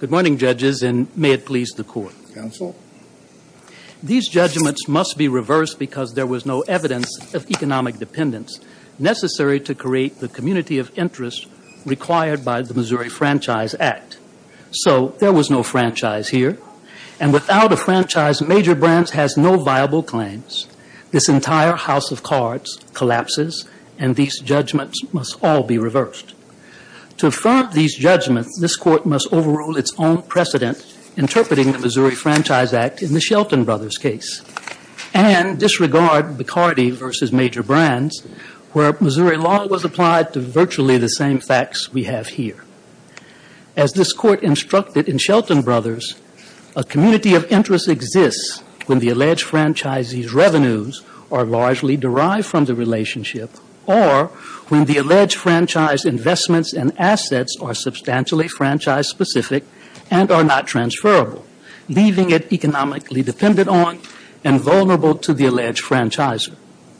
Good morning, Judges, and may it please the Court. Counsel. These judgments must be reversed because there was no evidence of economic dependence necessary to create the community of interest required by the Missouri Franchise Act. So there was no franchise here, and without a franchise, Major Brands has no viable claims. This entire house of cards collapses, and these judgments must all be reversed. To affirm these judgments, this Court must overrule its own precedent interpreting the Missouri Franchise Act in the Shelton Brothers case and disregard Bacardi v. Major Brands, where Missouri law was applied to virtually the same facts we have here. As this Court instructed in Shelton Brothers, a community of interest exists when the alleged franchisee's revenues are largely derived from the relationship or when the alleged franchise's investments and assets are substantially franchise-specific and are not transferable, leaving it economically dependent on and vulnerable to the alleged franchisor.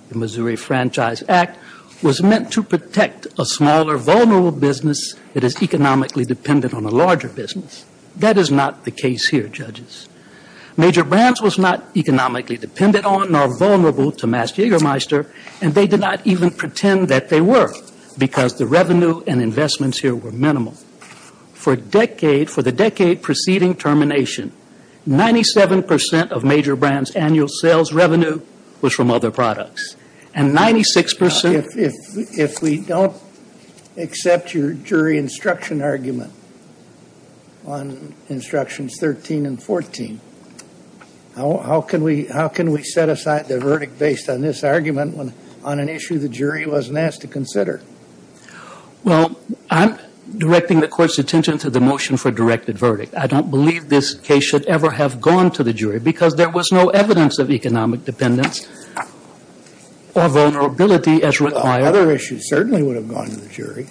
The Missouri Franchise Act was meant to protect a smaller, vulnerable business that is economically dependent on a larger business. That is not the case here, Judges. Major Brands was not economically dependent on nor vulnerable to Mast-Jagermeister, and they did not even pretend that they were because the revenue and investments here were minimal. For the decade preceding termination, 97% of Major Brands' annual sales revenue was from other products, and 96% If we don't accept your jury instruction argument on Instructions 13 and 14, how can we set aside the verdict based on this argument on an issue the jury wasn't asked to consider? Well, I'm directing the Court's attention to the motion for directed verdict. I don't believe this case should ever have gone to the jury because there was no evidence of economic dependence or vulnerability as required. Other issues certainly would have gone to the jury.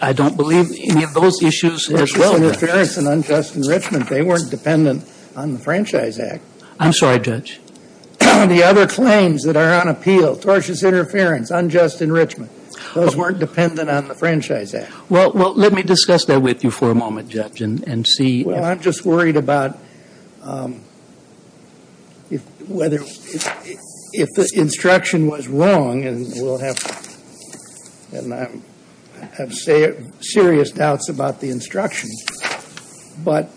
I don't believe any of those issues as well, Judge. Tortious interference and unjust enrichment. They weren't dependent on the Franchise Act. I'm sorry, Judge. The other claims that are on appeal, tortious interference, unjust enrichment. Those weren't dependent on the Franchise Act. Well, let me discuss that with you for a moment, Judge, and see if – Well, I'm just worried about whether – if the instruction was wrong, and we'll have – and I have serious doubts about the instruction. But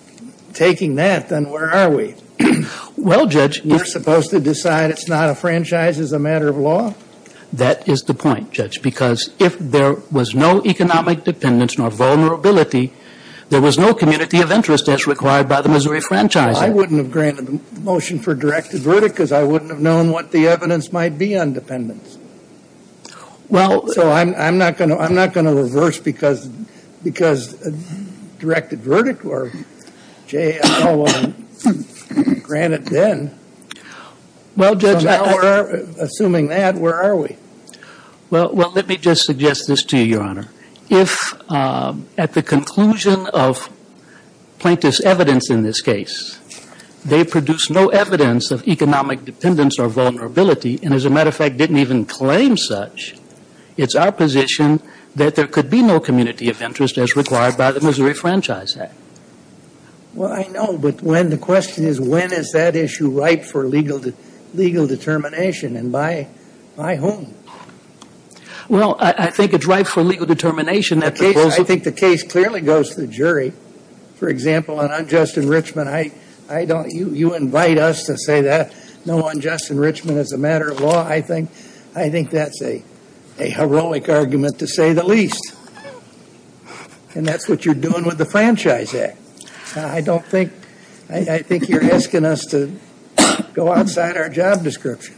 taking that, then where are we? Well, Judge – You're supposed to decide it's not a franchise as a matter of law? That is the point, Judge, because if there was no economic dependence nor vulnerability, there was no community of interest as required by the Missouri Franchise Act. Well, I wouldn't have granted the motion for directed verdict because I wouldn't have known what the evidence might be on dependence. Well – So I'm not going to – I'm not going to reverse because – because directed verdict or – Jay, I don't want to grant it then. Well, Judge – Assuming that, where are we? Well, let me just suggest this to you, Your Honor. If at the conclusion of plaintiff's evidence in this case, they produce no evidence of economic dependence or vulnerability, and as a matter of fact didn't even claim such, it's our position that there could be no community of interest as required by the Missouri Franchise Act. Well, I know, but when – the question is when is that issue ripe for legal determination, and by whom? Well, I think it's ripe for legal determination at the – I think the case clearly goes to the jury. For example, on unjust enrichment, I don't – you invite us to say that no unjust enrichment is a matter of law. I think that's a heroic argument to say the least, and that's what you're doing with the Franchise Act. I don't think – I think you're asking us to go outside our job description.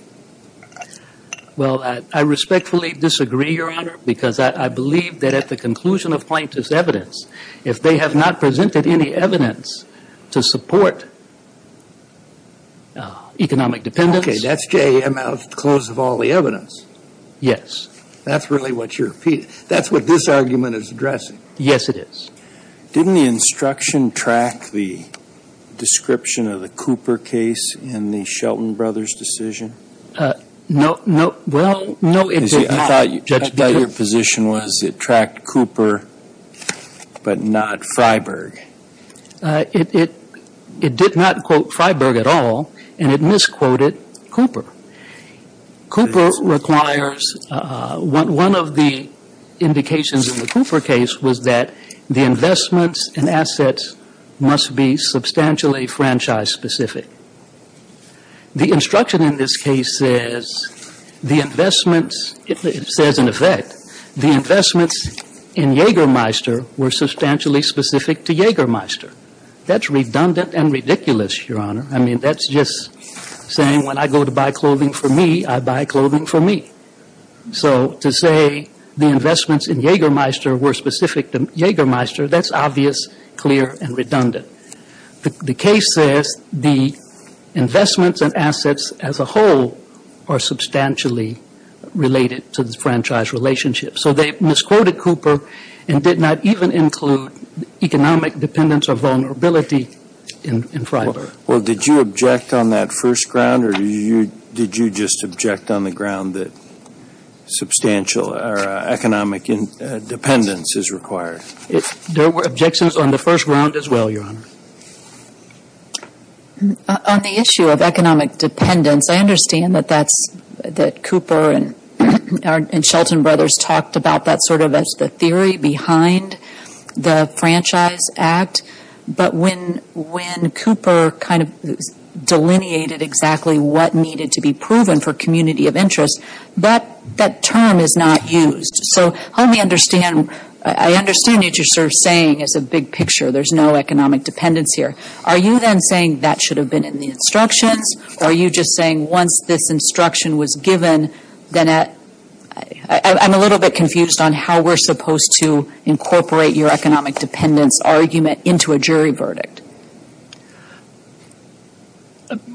Well, I respectfully disagree, Your Honor, because I believe that at the conclusion of plaintiff's evidence, if they have not presented any evidence to support economic dependence – Okay, that's J.M. out of the close of all the evidence. Yes. That's really what you're – that's what this argument is addressing. Yes, it is. Didn't the instruction track the description of the Cooper case in the Shelton brothers' decision? No. Well, no, it did not. I thought your position was it tracked Cooper but not Freiberg. It did not quote Freiberg at all, and it misquoted Cooper. Cooper requires – one of the indications in the Cooper case was that the investments and assets must be substantially franchise-specific. The instruction in this case says the investments – it says, in effect, the investments in Jaegermeister were substantially specific to Jaegermeister. That's redundant and ridiculous, Your Honor. I mean, that's just saying when I go to buy clothing for me, I buy clothing for me. So to say the investments in Jaegermeister were specific to Jaegermeister, that's obvious, clear, and redundant. The case says the investments and assets as a whole are substantially related to the franchise relationship. So they misquoted Cooper and did not even include economic dependence or vulnerability in Freiberg. Well, did you object on that first ground, or did you just object on the ground that substantial economic dependence is required? There were objections on the first ground as well, Your Honor. On the issue of economic dependence, I understand that Cooper and Shelton Brothers talked about that sort of as the theory behind the Franchise Act. But when Cooper kind of delineated exactly what needed to be proven for community of interest, that term is not used. So help me understand. I understand what you're sort of saying is a big picture. There's no economic dependence here. Are you then saying that should have been in the instructions, or are you just saying once this instruction was given, then at – I'm a little bit confused on how we're supposed to incorporate your economic dependence argument into a jury verdict?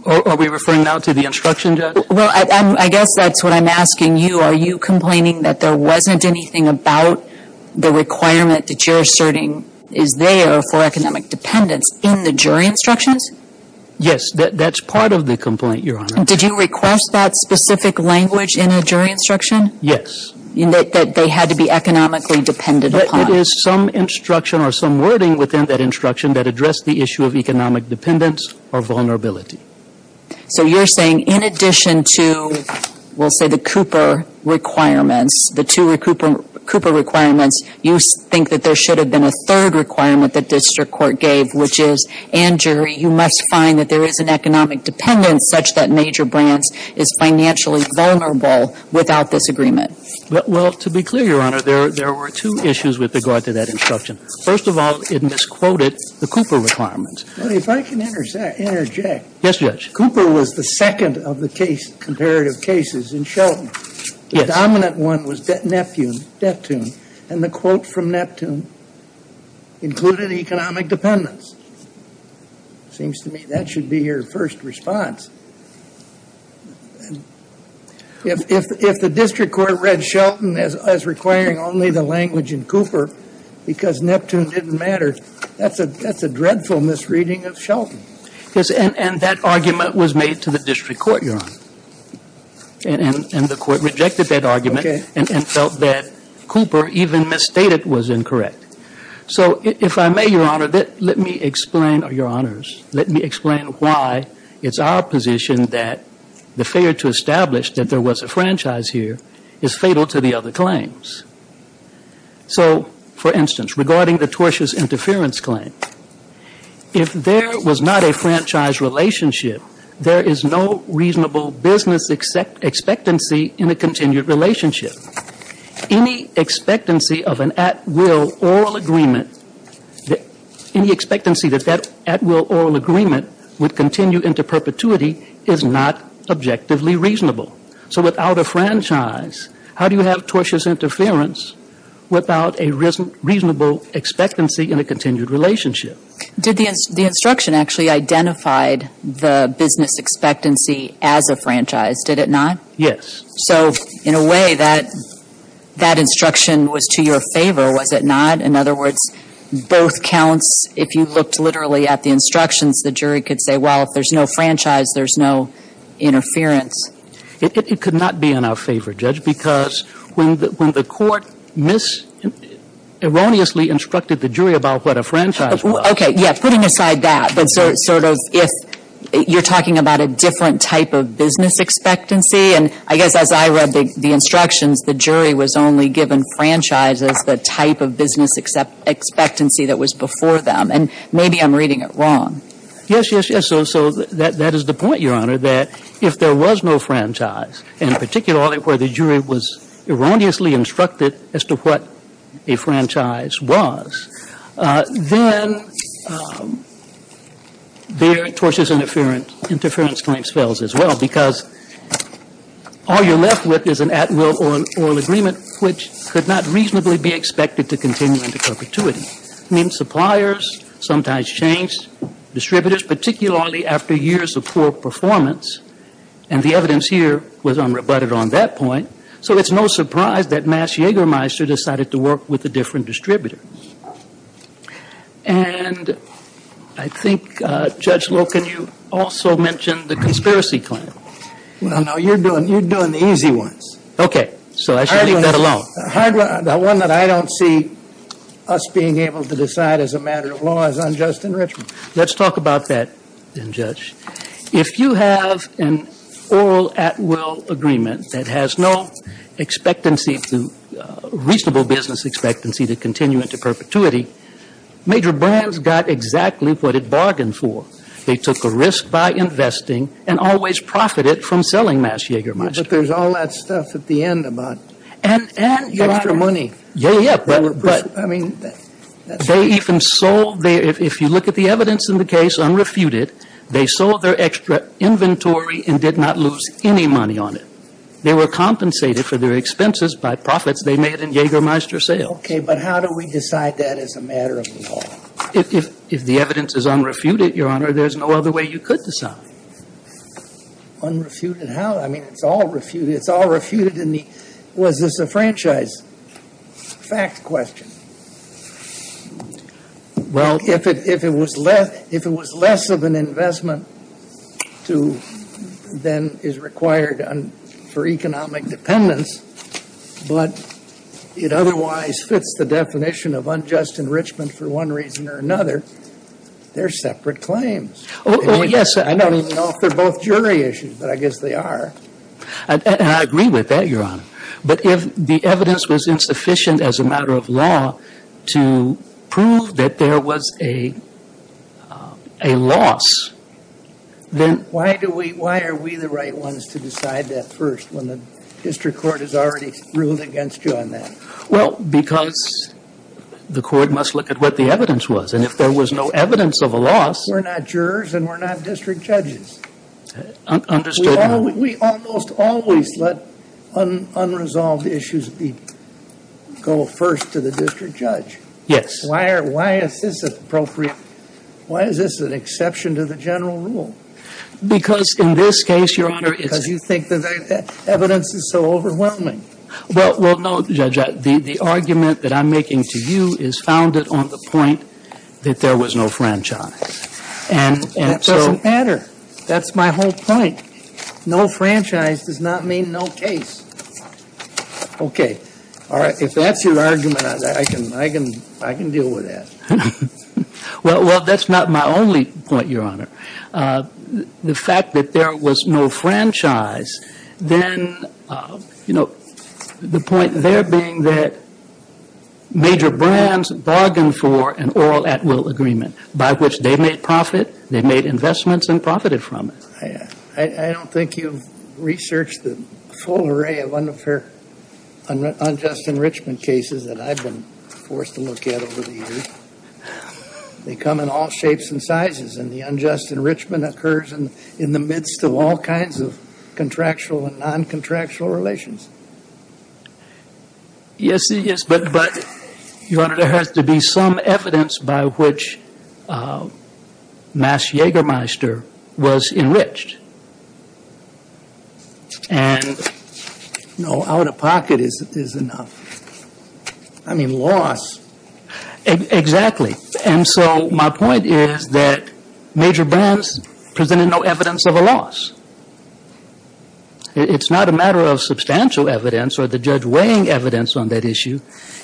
Are we referring now to the instruction, Judge? Well, I guess that's what I'm asking you. Are you complaining that there wasn't anything about the requirement that you're asserting is there for economic dependence in the jury instructions? Yes, that's part of the complaint, Your Honor. Did you request that specific language in a jury instruction? Yes. That they had to be economically dependent upon. But it is some instruction or some wording within that instruction that addressed the issue of economic dependence or vulnerability. So you're saying in addition to, we'll say, the Cooper requirements, the two Cooper requirements, you think that there should have been a third requirement that district court gave, which is, and jury, you must find that there is an economic dependence such that major brands is financially vulnerable without this agreement. Well, to be clear, Your Honor, there were two issues with regard to that instruction. First of all, it misquoted the Cooper requirements. If I can interject. Yes, Judge. Cooper was the second of the comparative cases in Shelton. Yes. The dominant one was Neptune. And the quote from Neptune included economic dependence. Seems to me that should be your first response. If the district court read Shelton as requiring only the language in Cooper because Neptune didn't matter, that's a dreadful misreading of Shelton. Yes. And that argument was made to the district court, Your Honor. And the court rejected that argument. Okay. And felt that Cooper even misstated was incorrect. So if I may, Your Honor, let me explain, Your Honors, let me explain why it's our position that the failure to establish that there was a franchise here is fatal to the other claims. So, for instance, regarding the tortuous interference claim, if there was not a franchise relationship, there is no reasonable business expectancy in a continued relationship. Any expectancy of an at-will oral agreement, any expectancy that that at-will oral agreement would continue into perpetuity is not objectively reasonable. So without a franchise, how do you have tortuous interference without a reasonable expectancy in a continued relationship? Did the instruction actually identify the business expectancy as a franchise? Did it not? Yes. So, in a way, that instruction was to your favor, was it not? In other words, both counts, if you looked literally at the instructions, the jury could say, well, if there's no franchise, there's no interference. It could not be in our favor, Judge, because when the court erroneously instructed the jury about what a franchise was. Okay, yeah, putting aside that, but sort of if you're talking about a different type of business expectancy, and I guess as I read the instructions, the jury was only given franchise as the type of business expectancy that was before them, and maybe I'm reading it wrong. Yes, yes, yes. So that is the point, Your Honor, that if there was no franchise, and particularly where the jury was erroneously instructed as to what a franchise was, then there are tortuous interference claims as well, because all you're left with is an at-will oral agreement, which could not reasonably be expected to continue into perpetuity. I mean, suppliers sometimes change distributors, particularly after years of poor performance, and the evidence here was unrebutted on that point. So it's no surprise that Mass Jägermeister decided to work with a different distributor. And I think, Judge Loken, you also mentioned the conspiracy claim. Well, no, you're doing the easy ones. Okay. So I should leave that alone. The one that I don't see us being able to decide as a matter of law is unjust enrichment. Let's talk about that then, Judge. If you have an oral at-will agreement that has no expectancy, reasonable business expectancy to continue into perpetuity, major brands got exactly what it bargained for. They took a risk by investing and always profited from selling Mass Jägermeister. But there's all that stuff at the end about extra money. Yeah, yeah. But they even sold, if you look at the evidence in the case unrefuted, they sold their extra inventory and did not lose any money on it. They were compensated for their expenses by profits they made in Jägermeister sales. Okay. But how do we decide that as a matter of law? If the evidence is unrefuted, Your Honor, there's no other way you could decide. Unrefuted? How? I mean, it's all refuted. It's all refuted in the was this a franchise fact question? Well, if it was less of an investment to then is required, for economic dependence, but it otherwise fits the definition of unjust enrichment for one reason or another, they're separate claims. Oh, yes. I don't even know if they're both jury issues, but I guess they are. And I agree with that, Your Honor. But if the evidence was insufficient as a matter of law to prove that there was a loss, then why are we the right ones to decide that first when the district court has already ruled against you on that? Well, because the court must look at what the evidence was. And if there was no evidence of a loss, We're not jurors and we're not district judges. Understood, Your Honor. We almost always let unresolved issues go first to the district judge. Yes. Why is this appropriate? Why is this an exception to the general rule? Because in this case, Your Honor, it's Because you think the evidence is so overwhelming. Well, no, Judge. The argument that I'm making to you is founded on the point that there was no franchise. And so That doesn't matter. That's my whole point. No franchise does not mean no case. Okay. All right. If that's your argument, I can deal with that. Well, that's not my only point, Your Honor. The fact that there was no franchise, then, you know, the point there being that major brands bargained for an oil at-will agreement by which they made profit, they made investments and profited from it. I don't think you've researched the full array of unfair unjust enrichment cases that I've been forced to look at over the years. They come in all shapes and sizes, and the unjust enrichment occurs in the midst of all kinds of contractual and non-contractual relations. Yes. Yes. But, Your Honor, there has to be some evidence by which Mass Jägermeister was enriched. And no out-of-pocket is enough. I mean, loss. Exactly. And so my point is that major brands presented no evidence of a loss. It's not a matter of substantial evidence or the judge weighing evidence on that issue.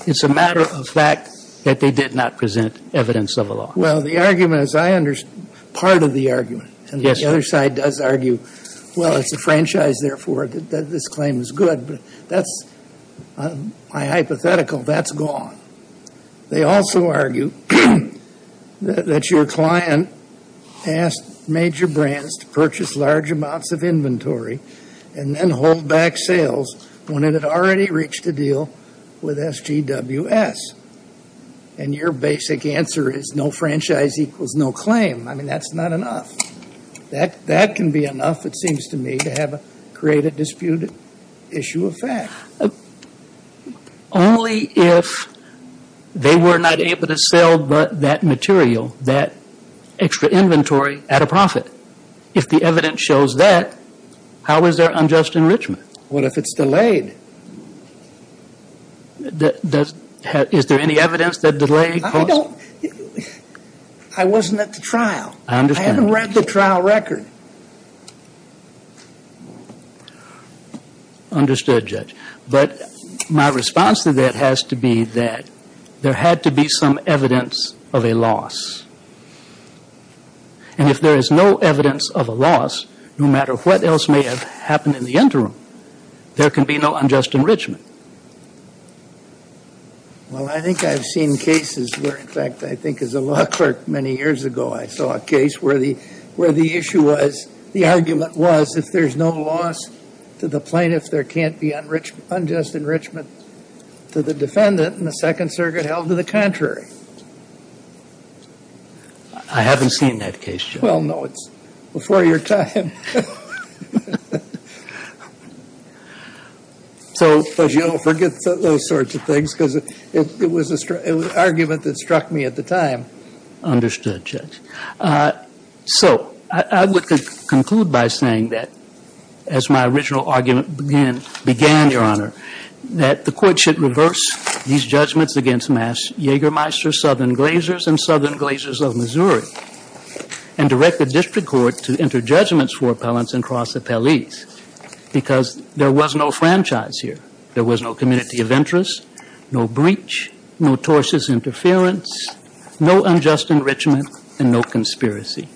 It's a matter of fact that they did not present evidence of a loss. Well, the argument, as I understand, part of the argument. Yes. And the other side does argue, well, it's a franchise, therefore, that this claim is good. But that's my hypothetical. That's gone. They also argue that your client asked major brands to purchase large amounts of inventory and then hold back sales when it had already reached a deal with SGWS. And your basic answer is no franchise equals no claim. I mean, that's not enough. That can be enough, it seems to me, to create a disputed issue of fact. Only if they were not able to sell but that material, that extra inventory, at a profit. If the evidence shows that, how is there unjust enrichment? What if it's delayed? Is there any evidence that delayed costs? I wasn't at the trial. I understand. I haven't read the trial record. Okay. Understood, Judge. But my response to that has to be that there had to be some evidence of a loss. And if there is no evidence of a loss, no matter what else may have happened in the interim, there can be no unjust enrichment. Well, I think I've seen cases where, in fact, I think as a law clerk many years ago, I saw a case where the issue was, the argument was, if there's no loss to the plaintiff, there can't be unjust enrichment to the defendant. And the Second Circuit held to the contrary. I haven't seen that case, Judge. Well, no, it's before your time. But you don't forget those sorts of things, because it was an argument that struck me at the time. Understood, Judge. So I would conclude by saying that, as my original argument began, Your Honor, that the Court should reverse these judgments against Mass. Jägermeister, Southern Glazers, and Southern Glazers of Missouri, and direct the District Court to enter judgments for appellants and cross appellees, because there was no franchise here. There was no community of interest, no breach, no tortious interference, no unjust enrichment, and no conspiracy.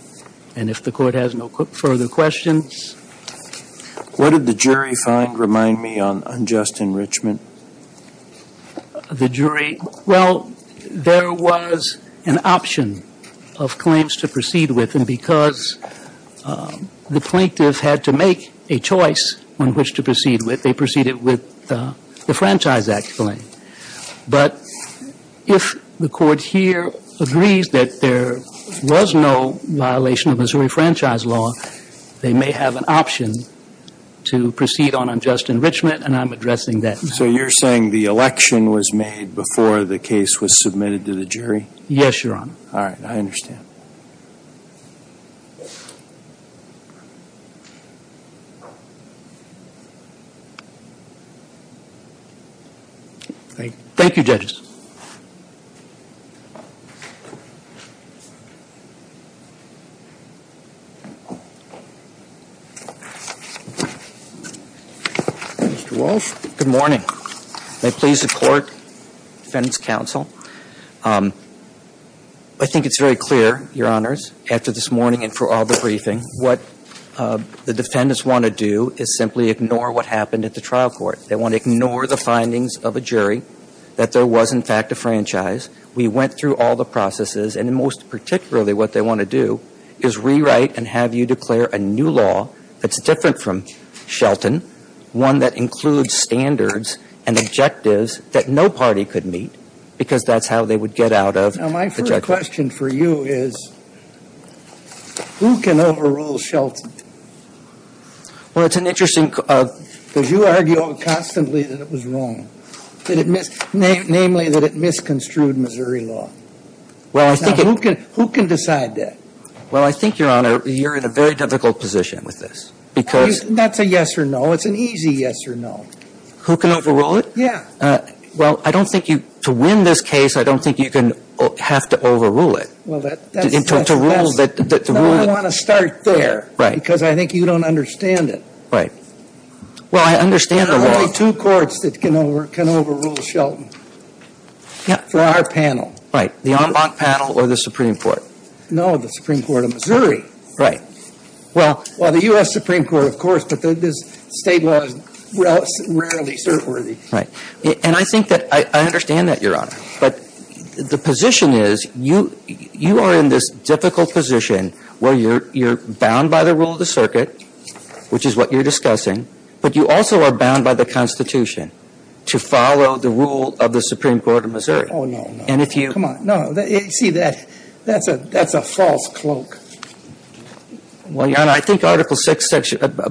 And if the Court has no further questions. What did the jury find, remind me, on unjust enrichment? The jury, well, there was an option of claims to proceed with, and because the plaintiff had to make a choice on which to proceed with, they proceeded with the Franchise Act claim. But if the Court here agrees that there was no violation of Missouri Franchise Law, they may have an option to proceed on unjust enrichment, and I'm addressing that. So you're saying the election was made before the case was submitted to the jury? Yes, Your Honor. All right, I understand. Thank you, Judges. Mr. Walsh. Good morning. May it please the Court, Defendant's Counsel. I think it's very clear, Your Honors, after this morning and for all the briefing, what the defendants want to do is simply ignore what happened at the trial court. They want to ignore the findings of a jury that there was, in fact, a franchise. We went through all the processes, and most particularly what they want to do is rewrite and have you declare a new law that's different from Shelton, one that includes standards and objectives that no party could meet, because that's how they would get out of the judgment. Now, my first question for you is who can overrule Shelton? Well, it's an interesting question. Because you argue constantly that it was wrong, namely that it misconstrued Missouri law. Well, I think it — Now, who can decide that? Well, I think, Your Honor, you're in a very difficult position with this, because — That's a yes or no. It's an easy yes or no. Who can overrule it? Yeah. Well, I don't think you — to win this case, I don't think you can — have to overrule it. Well, that's — To rule that — No, I want to start there. Because I think you don't understand it. Right. Well, I understand the law. There are only two courts that can overrule Shelton. Yeah. For our panel. Right. The en banc panel or the Supreme Court. No, the Supreme Court of Missouri. Right. Well, the U.S. Supreme Court, of course, but this State law is rarely cert-worthy. Right. And I think that — I understand that, Your Honor. But the position is, you are in this difficult position where you're bound by the rule of the circuit, which is what you're discussing, but you also are bound by the Constitution to follow the rule of the Supreme Court of Missouri. Oh, no, no. And if you — Come on. No. See, that's a false cloak. Well, Your Honor, I think Article VI,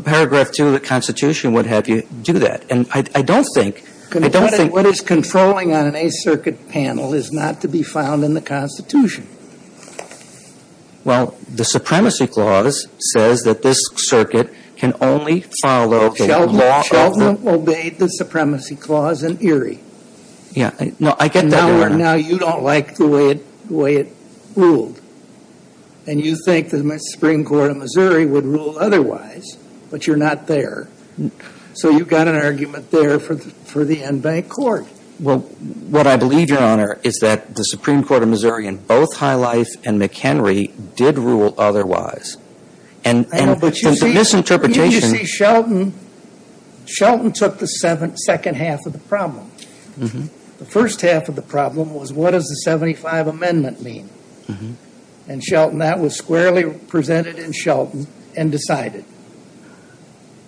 paragraph 2 of the Constitution would have you do that. And I don't think — I don't think — I don't think that the en banc panel is not to be found in the Constitution. Well, the Supremacy Clause says that this circuit can only follow the law of the — Shelton obeyed the Supremacy Clause in Erie. Yeah. No, I get that, Your Honor. Now you don't like the way it ruled. And you think the Supreme Court of Missouri would rule otherwise, but you're not there. So you've got an argument there for the en banc court. Well, what I believe, Your Honor, is that the Supreme Court of Missouri in both High Life and McHenry did rule otherwise. And the misinterpretation — You see, Shelton took the second half of the problem. The first half of the problem was what does the 75 Amendment mean? And Shelton — that was squarely presented in Shelton and decided.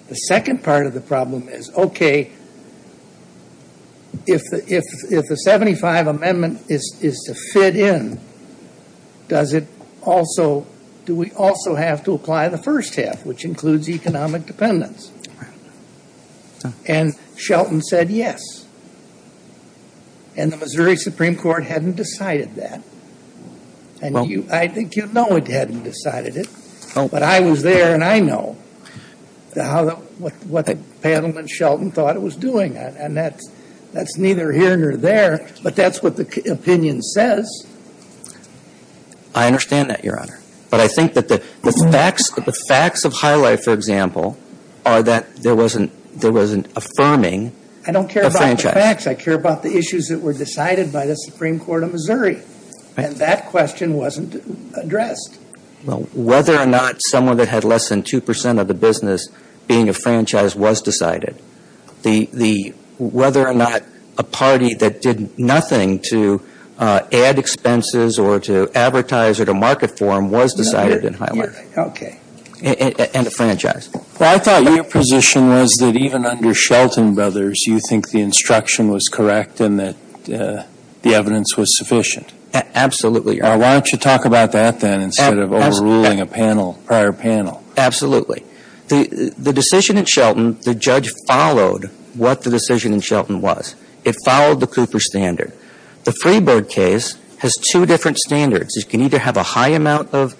The second part of the problem is, okay, if the 75 Amendment is to fit in, does it also — do we also have to apply the first half, which includes economic dependence? And Shelton said yes. And the Missouri Supreme Court hadn't decided that. And you — I think you know it hadn't decided it. But I was there and I know what the panel and Shelton thought it was doing. And that's neither here nor there. But that's what the opinion says. I understand that, Your Honor. But I think that the facts of High Life, for example, are that there was an affirming — I don't care about the facts. I care about the issues that were decided by the Supreme Court of Missouri. And that question wasn't addressed. Well, whether or not someone that had less than 2 percent of the business being a franchise was decided. The — whether or not a party that did nothing to add expenses or to advertise or to market for them was decided in High Life. Okay. And a franchise. Well, I thought your position was that even under Shelton Brothers, you think the instruction was correct and that the evidence was sufficient. Absolutely, Your Honor. Why don't you talk about that then instead of overruling a panel, prior panel? Absolutely. The decision in Shelton, the judge followed what the decision in Shelton was. It followed the Cooper standard. The Freeboard case has two different standards. It can either have a high amount of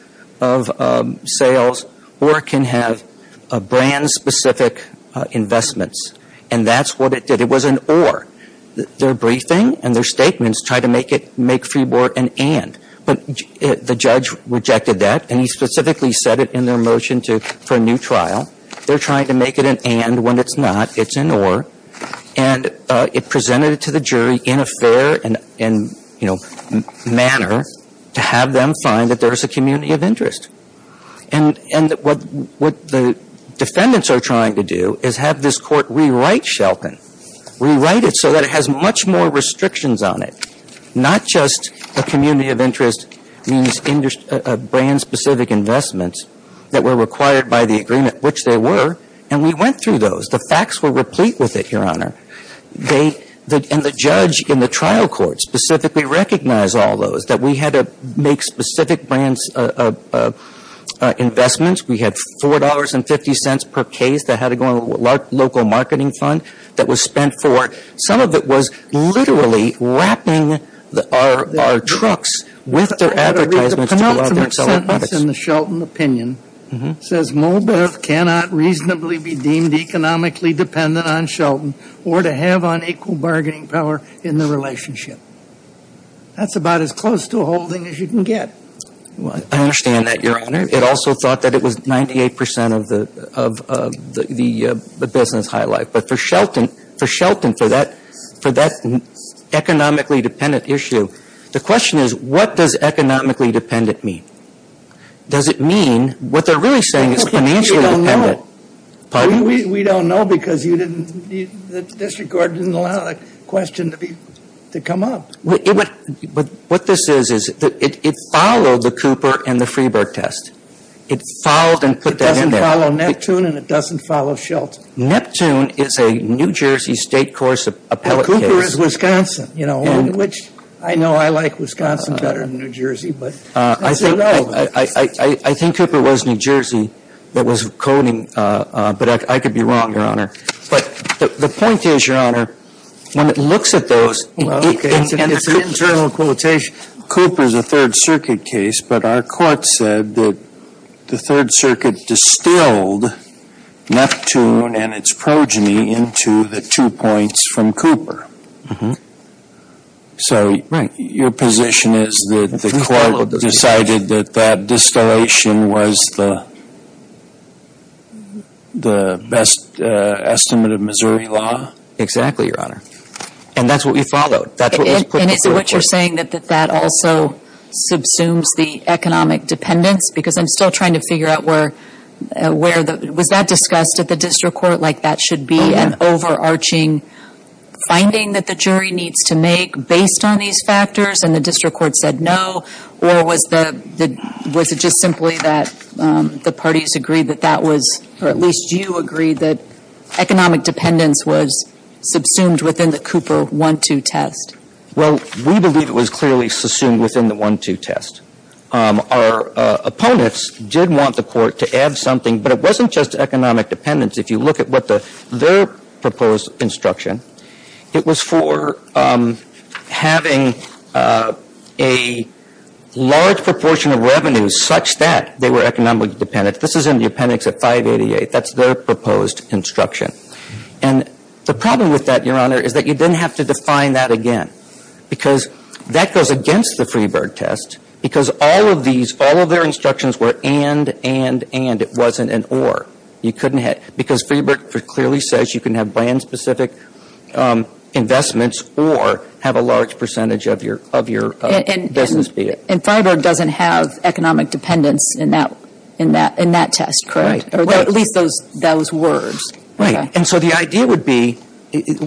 sales or it can have brand-specific investments. And that's what it did. It was an or. Their briefing and their statements tried to make it — make Freeboard an and. But the judge rejected that, and he specifically said it in their motion to — for a new trial. They're trying to make it an and when it's not. It's an or. And it presented it to the jury in a fair and, you know, manner to have them find that there is a community of interest. And what the defendants are trying to do is have this Court rewrite Shelton. Rewrite it so that it has much more restrictions on it, not just a community of interest means brand-specific investments that were required by the agreement, which they were. And we went through those. The facts were replete with it, Your Honor. They — and the judge in the trial court specifically recognized all those, that we had to make specific brands' investments. We had $4.50 per case that had to go in a local marketing fund that was spent for — some of it was literally wrapping our trucks with their advertisements to go out there and sell our products. The penultimate sentence in the Shelton opinion says, Moldov cannot reasonably be deemed economically dependent on Shelton or to have unequal bargaining power in the relationship. That's about as close to a holding as you can get. I understand that, Your Honor. It also thought that it was 98 percent of the business highlight. But for Shelton, for that economically dependent issue, the question is, what does economically dependent mean? Does it mean — what they're really saying is financially dependent. We don't know because you didn't — the district court didn't allow that question to be — to come up. But what this is, is it followed the Cooper and the Freeberg test. It followed and put that in there. It doesn't follow Neptune and it doesn't follow Shelton. Neptune is a New Jersey State courts appellate case. Cooper is Wisconsin, you know, which I know I like Wisconsin better than New Jersey, but it's irrelevant. I think Cooper was New Jersey that was coding, but I could be wrong, Your Honor. But the point is, Your Honor, when it looks at those — Well, okay. It's an internal quotation. Cooper is a Third Circuit case, but our court said that the Third Circuit distilled Neptune and its progeny into the two points from Cooper. Mm-hmm. So your position is that the court decided that that distillation was the best estimate of Missouri law? Exactly, Your Honor. And that's what we followed. And is it what you're saying, that that also subsumes the economic dependence? Because I'm still trying to figure out where — was that discussed at the district court? Like that should be an overarching finding that the jury needs to make based on these factors, and the district court said no? Or was the — was it just simply that the parties agreed that that was — or at least you agreed that economic dependence was subsumed within the Cooper 1-2 test? Well, we believe it was clearly subsumed within the 1-2 test. Our opponents did want the court to add something, but it wasn't just economic dependence. If you look at what the — their proposed instruction, it was for having a large proportion of revenues such that they were economically dependent. This is in the appendix at 588. That's their proposed instruction. And the problem with that, Your Honor, is that you then have to define that again, because that goes against the Freebird test, because all of these — all of their instructions were and, and, and. It wasn't an or. You couldn't have — because Freebird clearly says you can have brand-specific investments or have a large percentage of your, of your business be it. And, and, and Freiburg doesn't have economic dependence in that, in that, in that test, correct? Right. Or at least those, those words. Right. And so the idea would be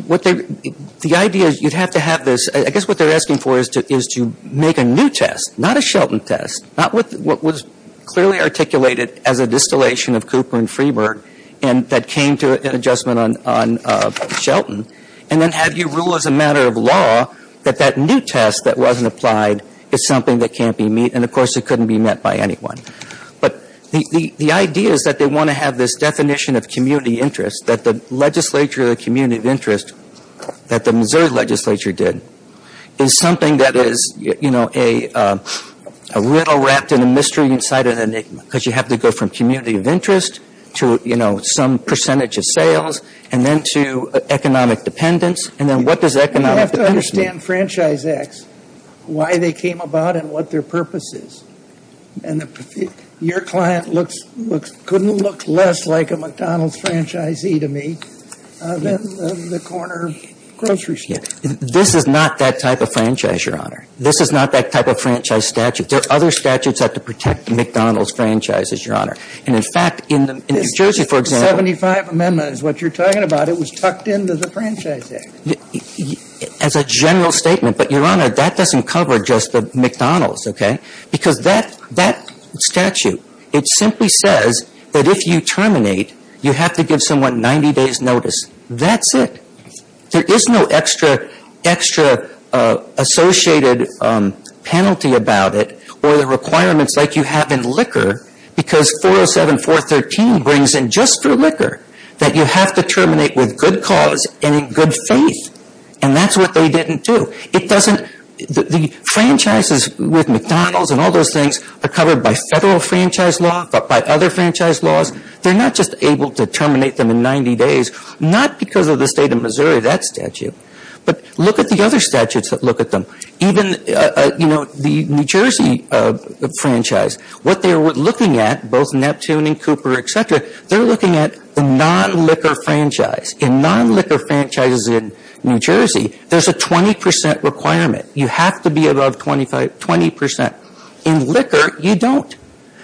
what they — the idea is you'd have to have this — I guess what they're asking for is to, is to make a new test, not a Shelton test, not with what was clearly articulated as a distillation of Cooper and Freebird and that came to an adjustment on, on Shelton, and then have you rule as a matter of law that that new test that wasn't applied is something that can't be met. And, of course, it couldn't be met by anyone. But the, the, the idea is that they want to have this definition of community interest, that the legislature of the community of interest that the Missouri legislature did is something that is, you know, a, a riddle wrapped in a mystery inside an enigma. Because you have to go from community of interest to, you know, some percentage of sales and then to economic dependence. And then what does economic — You have to understand franchise acts, why they came about and what their purpose is. And your client looks, couldn't look less like a McDonald's franchisee to me than the corner grocery store. I'm telling you, this is not that type of franchise, Your Honor. This is not that type of franchise statute. There are other statutes that have to protect McDonald's franchises, Your Honor. And, in fact, in the, in New Jersey, for example — The 75th Amendment is what you're talking about. It was tucked into the Franchise Act. As a general statement, but, Your Honor, that doesn't cover just the McDonald's, okay? Because that, that statute, it simply says that if you terminate, you have to give someone 90 days' notice. That's it. There is no extra, extra associated penalty about it or the requirements like you have in liquor, because 407.413 brings in just for liquor that you have to terminate with good cause and in good faith. And that's what they didn't do. It doesn't — the franchises with McDonald's and all those things are covered by federal franchise law, but by other franchise laws. They're not just able to terminate them in 90 days, not because of the State of Missouri, that statute, but look at the other statutes that look at them. Even, you know, the New Jersey franchise, what they're looking at, both Neptune and Cooper, et cetera, they're looking at the non-liquor franchise. In non-liquor franchises in New Jersey, there's a 20 percent requirement. You have to be above 25 — 20 percent. In liquor, you don't,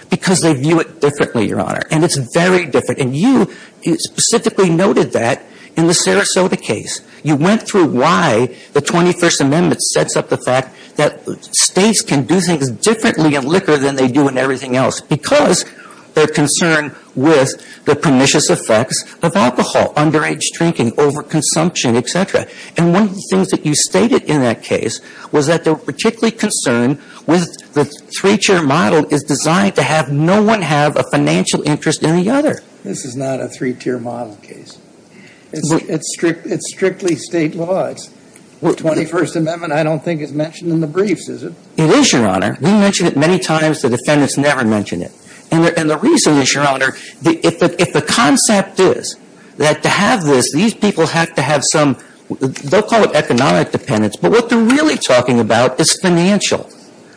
because they view it differently, Your Honor. And it's very different. And you specifically noted that in the Sarasota case. You went through why the 21st Amendment sets up the fact that states can do things differently in liquor than they do in everything else, because they're concerned with the pernicious effects of alcohol, underage drinking, overconsumption, et cetera. And one of the things that you stated in that case was that they're particularly concerned with the three-tier model is designed to have no one have a financial interest in the other. This is not a three-tier model case. It's strictly State law. The 21st Amendment, I don't think, is mentioned in the briefs, is it? It is, Your Honor. We mention it many times. The defendants never mention it. And the reason is, Your Honor, if the concept is that to have this, these people have to have some — they'll call it economic dependence, but what they're really talking about is financial.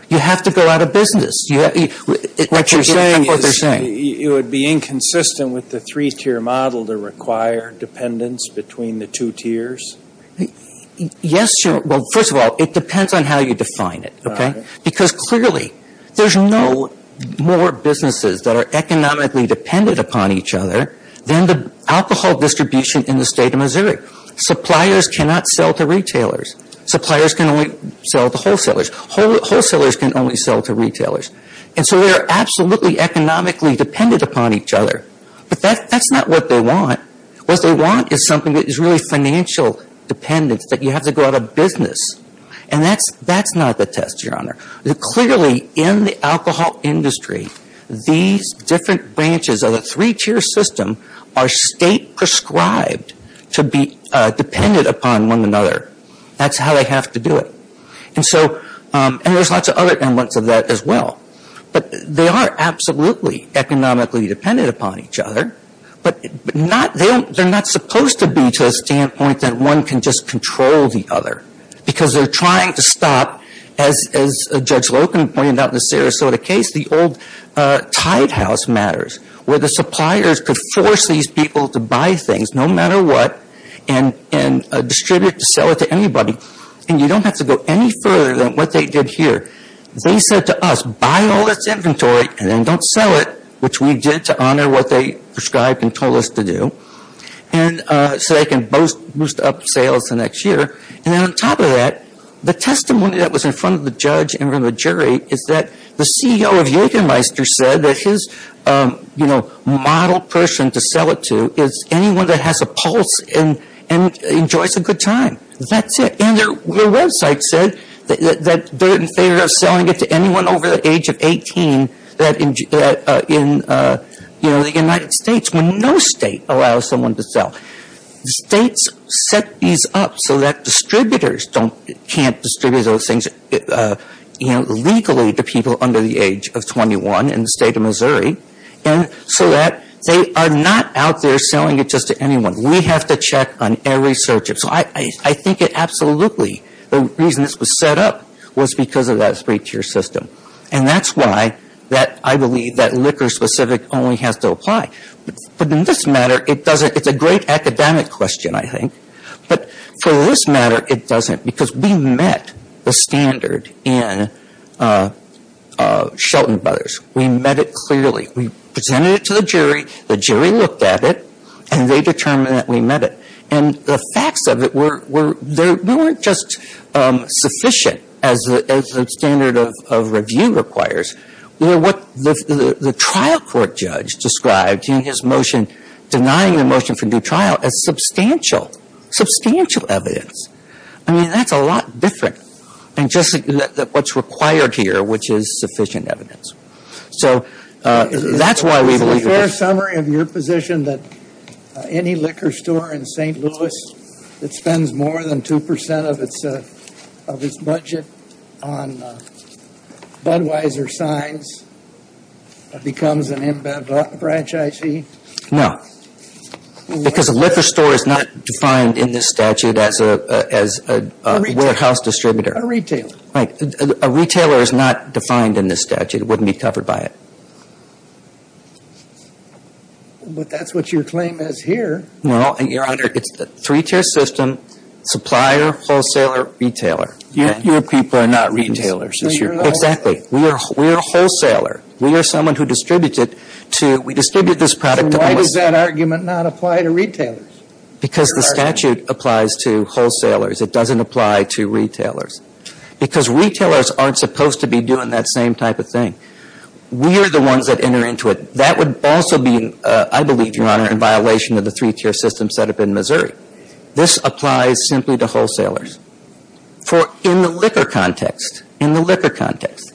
You have to go out of business. What you're saying is it would be inconsistent with the three-tier model to require dependence between the two tiers? Yes, Your Honor. Well, first of all, it depends on how you define it, okay? Because clearly there's no more businesses that are economically dependent upon each other than the alcohol distribution in the State of Missouri. Suppliers cannot sell to retailers. Suppliers can only sell to wholesalers. Wholesalers can only sell to retailers. And so they are absolutely economically dependent upon each other. But that's not what they want. What they want is something that is really financial dependence, that you have to go out of business. And that's not the test, Your Honor. Clearly, in the alcohol industry, these different branches of the three-tier system are State-prescribed to be dependent upon one another. That's how they have to do it. And so there's lots of other elements of that as well. But they are absolutely economically dependent upon each other. But they're not supposed to be to a standpoint that one can just control the other because they're trying to stop, as Judge Loken pointed out in the Sarasota case, the old Tide House matters, where the suppliers could force these people to buy things, and you don't have to go any further than what they did here. They said to us, buy all this inventory and then don't sell it, which we did to honor what they prescribed and told us to do, so they can boost up sales the next year. And then on top of that, the testimony that was in front of the judge and in front of the jury is that the CEO of Jägermeister said that his model person to sell it to is anyone that has a pulse and enjoys a good time. That's it. And their website said that they're in favor of selling it to anyone over the age of 18 in the United States when no state allows someone to sell. The states set these up so that distributors can't distribute those things legally to people under the age of 21 in the state of Missouri so that they are not out there selling it just to anyone. We have to check on every search. So I think absolutely the reason this was set up was because of that three-tier system. And that's why I believe that liquor-specific only has to apply. But in this matter, it doesn't. It's a great academic question, I think. But for this matter, it doesn't because we met the standard in Shelton Brothers. We met it clearly. We presented it to the jury. The jury looked at it, and they determined that we met it. And the facts of it were there. We weren't just sufficient as the standard of review requires. What the trial court judge described in his motion denying the motion for due trial as substantial, substantial evidence. I mean, that's a lot different than just what's required here, which is sufficient evidence. So that's why we believe it. Is it a fair summary of your position that any liquor store in St. Louis that spends more than 2 percent of its budget on Budweiser signs becomes an embedded franchisee? No. Because a liquor store is not defined in this statute as a warehouse distributor. A retailer. A retailer is not defined in this statute. It wouldn't be covered by it. But that's what your claim is here. Well, Your Honor, it's the three-tier system, supplier, wholesaler, retailer. Your people are not retailers. Exactly. We are a wholesaler. We are someone who distributes it to – we distribute this product to – Then why does that argument not apply to retailers? Because the statute applies to wholesalers. It doesn't apply to retailers. Because retailers aren't supposed to be doing that same type of thing. We are the ones that enter into it. That would also be, I believe, Your Honor, in violation of the three-tier system set up in Missouri. This applies simply to wholesalers. For in the liquor context, in the liquor context,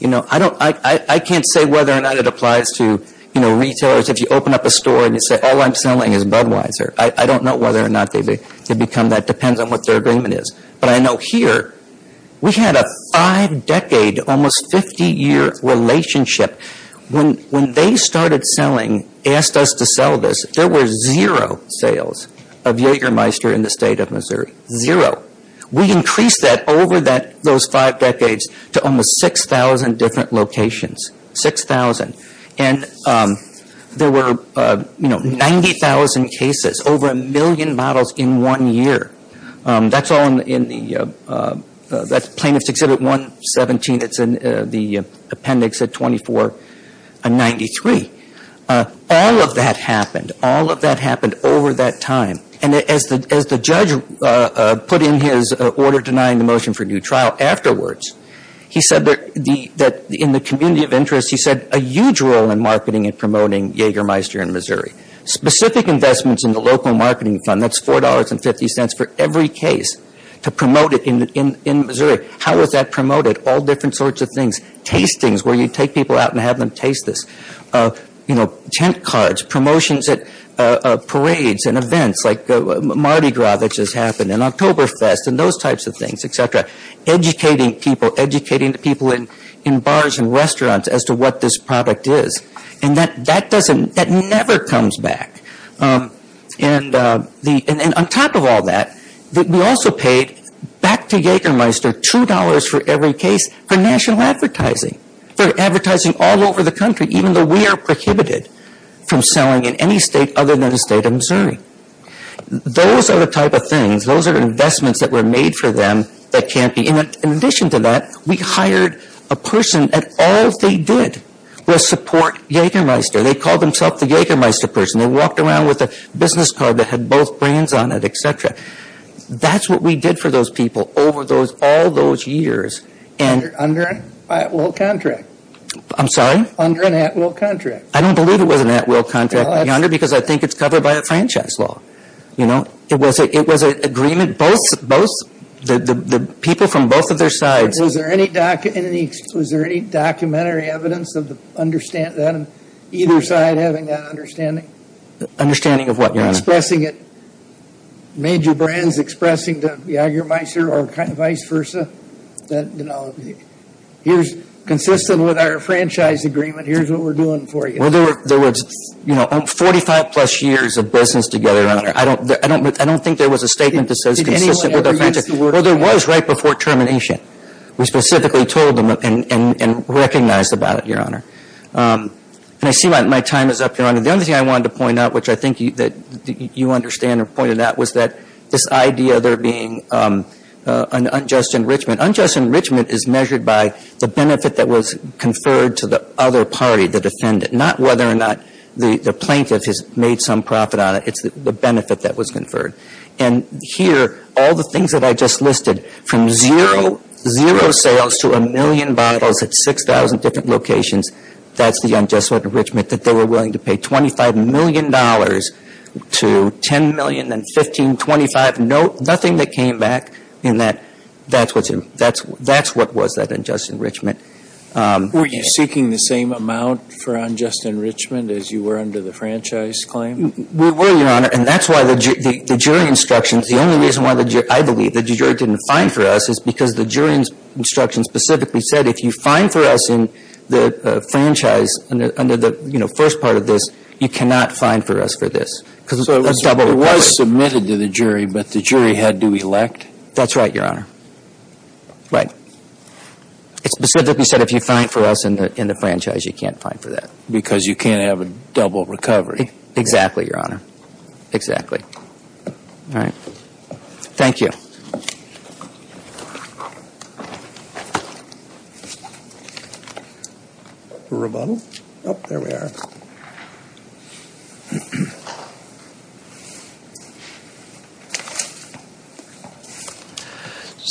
you know, I don't – I can't say whether or not it applies to, you know, retailers. If you open up a store and you say all I'm selling is Budweiser, I don't know whether or not they become that. It depends on what their agreement is. But I know here, we had a five-decade, almost 50-year relationship. When they started selling, asked us to sell this, there were zero sales of Jägermeister in the state of Missouri. Zero. We increased that over those five decades to almost 6,000 different locations. 6,000. And there were, you know, 90,000 cases, over a million bottles in one year. That's all in the – that's Plaintiff's Exhibit 117. It's in the appendix at 2493. All of that happened. All of that happened over that time. And as the judge put in his order denying the motion for a new trial afterwards, he said that in the community of interest, he said a huge role in marketing and promoting Jägermeister in Missouri. Specific investments in the local marketing fund, that's $4.50 for every case to promote it in Missouri. How is that promoted? All different sorts of things. Tastings, where you take people out and have them taste this. You know, tent cards, promotions at parades and events like Mardi Gras that just happened, and Oktoberfest and those types of things, et cetera. Educating people, educating the people in bars and restaurants as to what this product is. And that doesn't – that never comes back. And on top of all that, we also paid, back to Jägermeister, $2 for every case for national advertising. For advertising all over the country, even though we are prohibited from selling in any state other than the state of Missouri. Those are the type of things, those are investments that were made for them that can't be – In addition to that, we hired a person and all they did was support Jägermeister. They called themselves the Jägermeister person. They walked around with a business card that had both brands on it, et cetera. That's what we did for those people over all those years. Under an at-will contract. I'm sorry? Under an at-will contract. I don't believe it was an at-will contract, because I think it's covered by a franchise law. It was an agreement, both – the people from both of their sides. Was there any documentary evidence of either side having that understanding? Understanding of what, Your Honor? Expressing it, major brands expressing to Jägermeister or vice versa, that, you know, here's – consistent with our franchise agreement, here's what we're doing for you. Well, there was, you know, 45-plus years of business together, Your Honor. I don't think there was a statement that says consistent with our franchise – Did anyone ever use the word – Well, there was right before termination. We specifically told them and recognized about it, Your Honor. And I see my time is up, Your Honor. The only thing I wanted to point out, which I think that you understand or pointed out, was that this idea there being an unjust enrichment. Unjust enrichment is measured by the benefit that was conferred to the other party, the defendant, not whether or not the plaintiff has made some profit on it. It's the benefit that was conferred. And here, all the things that I just listed, from zero sales to a million bottles at 6,000 different locations, that's the unjust enrichment that they were willing to pay. $25 million to $10 million, then $15 million, $25 million. Nothing that came back in that. That's what was that unjust enrichment. Were you seeking the same amount for unjust enrichment as you were under the franchise claim? We were, Your Honor. And that's why the jury instructions – the only reason why I believe the jury didn't fine for us is because the jury instructions specifically said if you fine for us in the franchise under the, you know, first part of this, you cannot fine for us for this. So it was submitted to the jury, but the jury had to elect? That's right, Your Honor. Right. It specifically said if you fine for us in the franchise, you can't fine for that. Because you can't have a double recovery. Exactly, Your Honor. Exactly. All right. Thank you. A rebuttal? Oh, there we are.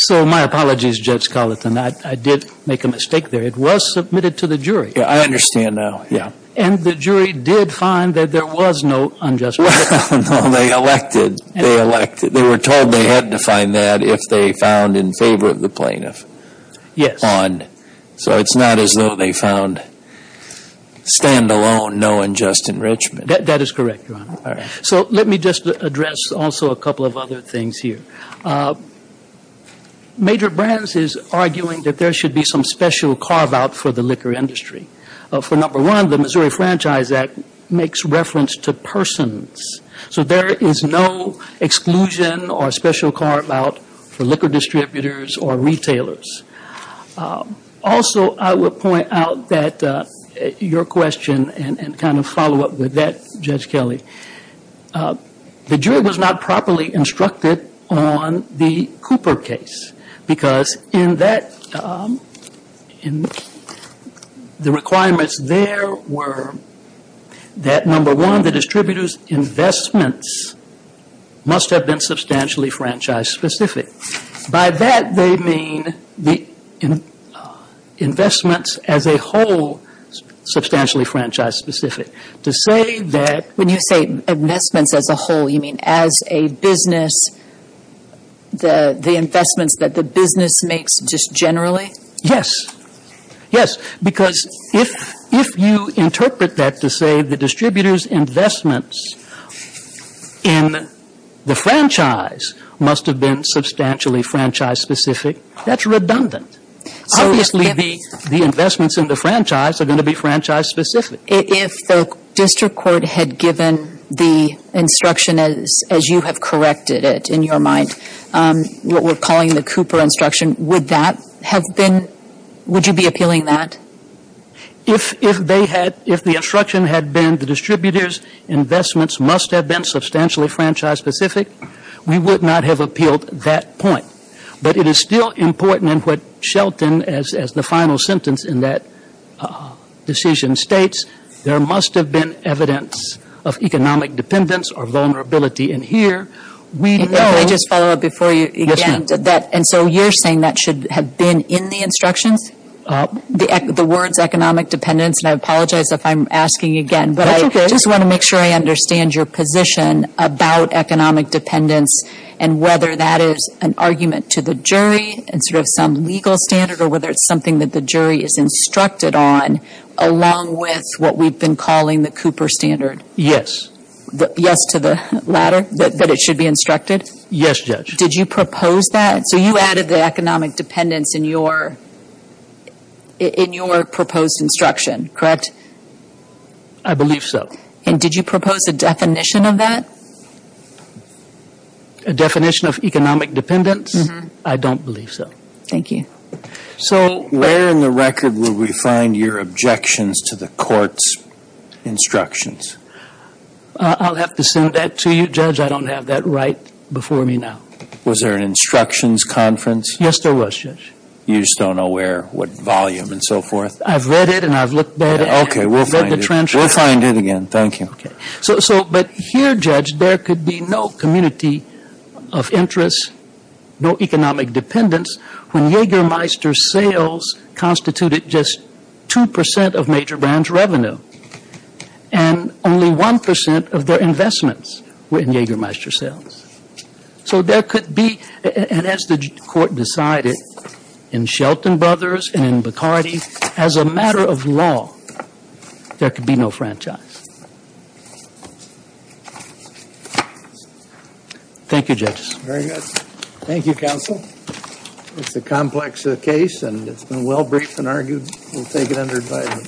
So my apologies, Judge Carlton. I did make a mistake there. It was submitted to the jury. Yeah, I understand now. Yeah. And the jury did fine that there was no unjust enrichment? No, they elected. They elected. They were told they had to fine us. And they did fine that if they found in favor of the plaintiff? Yes. So it's not as though they found stand-alone no unjust enrichment? That is correct, Your Honor. All right. So let me just address also a couple of other things here. Major Brands is arguing that there should be some special carve-out for the liquor industry. For number one, the Missouri Franchise Act makes reference to persons. So there is no exclusion or special carve-out for liquor distributors or retailers. Also, I will point out that your question and kind of follow up with that, Judge Kelly, the jury was not properly instructed on the Cooper case because in that, the requirements there were that, number one, the distributors' investments must have been substantially franchise-specific. By that, they mean the investments as a whole substantially franchise-specific. To say that – When you say investments as a whole, you mean as a business, the investments that the business makes just generally? Yes. Yes. Because if you interpret that to say the distributors' investments in the franchise must have been substantially franchise-specific, that's redundant. Obviously, the investments in the franchise are going to be franchise-specific. If the district court had given the instruction as you have corrected it in your mind, what we're calling the Cooper instruction, would that have been – would you be appealing that? If they had – if the instruction had been the distributors' investments must have been substantially franchise-specific, we would not have appealed that point. But it is still important in what Shelton, as the final sentence in that decision states, there must have been evidence of economic dependence or vulnerability. And here, we know – Can I just follow up before you? Yes, ma'am. And so you're saying that should have been in the instructions, the words economic dependence? And I apologize if I'm asking again. That's okay. But I just want to make sure I understand your position about economic dependence and whether that is an argument to the jury and sort of some legal standard or whether it's something that the jury is instructed on along with what we've been calling the Cooper standard. Yes. Yes to the latter, that it should be instructed? Yes, Judge. Did you propose that? So you added the economic dependence in your proposed instruction, correct? I believe so. And did you propose a definition of that? A definition of economic dependence? I don't believe so. Thank you. So where in the record will we find your objections to the court's instructions? I'll have to send that to you, Judge. I don't have that right before me now. Was there an instructions conference? Yes, there was, Judge. You just don't know where, what volume and so forth? I've read it and I've looked at it. Okay, we'll find it. We'll find it again. Thank you. Okay. So but here, Judge, there could be no community of interest, no economic dependence, when Jägermeister sales constituted just 2% of major branch revenue and only 1% of their investments were in Jägermeister sales. So there could be, and as the court decided in Shelton Brothers and in Bacardi, as a matter of law, there could be no franchise. Thank you, Judges. Very good. Thank you, Counsel. It's a complex case and it's been well-briefed and argued. We'll take it under advisement.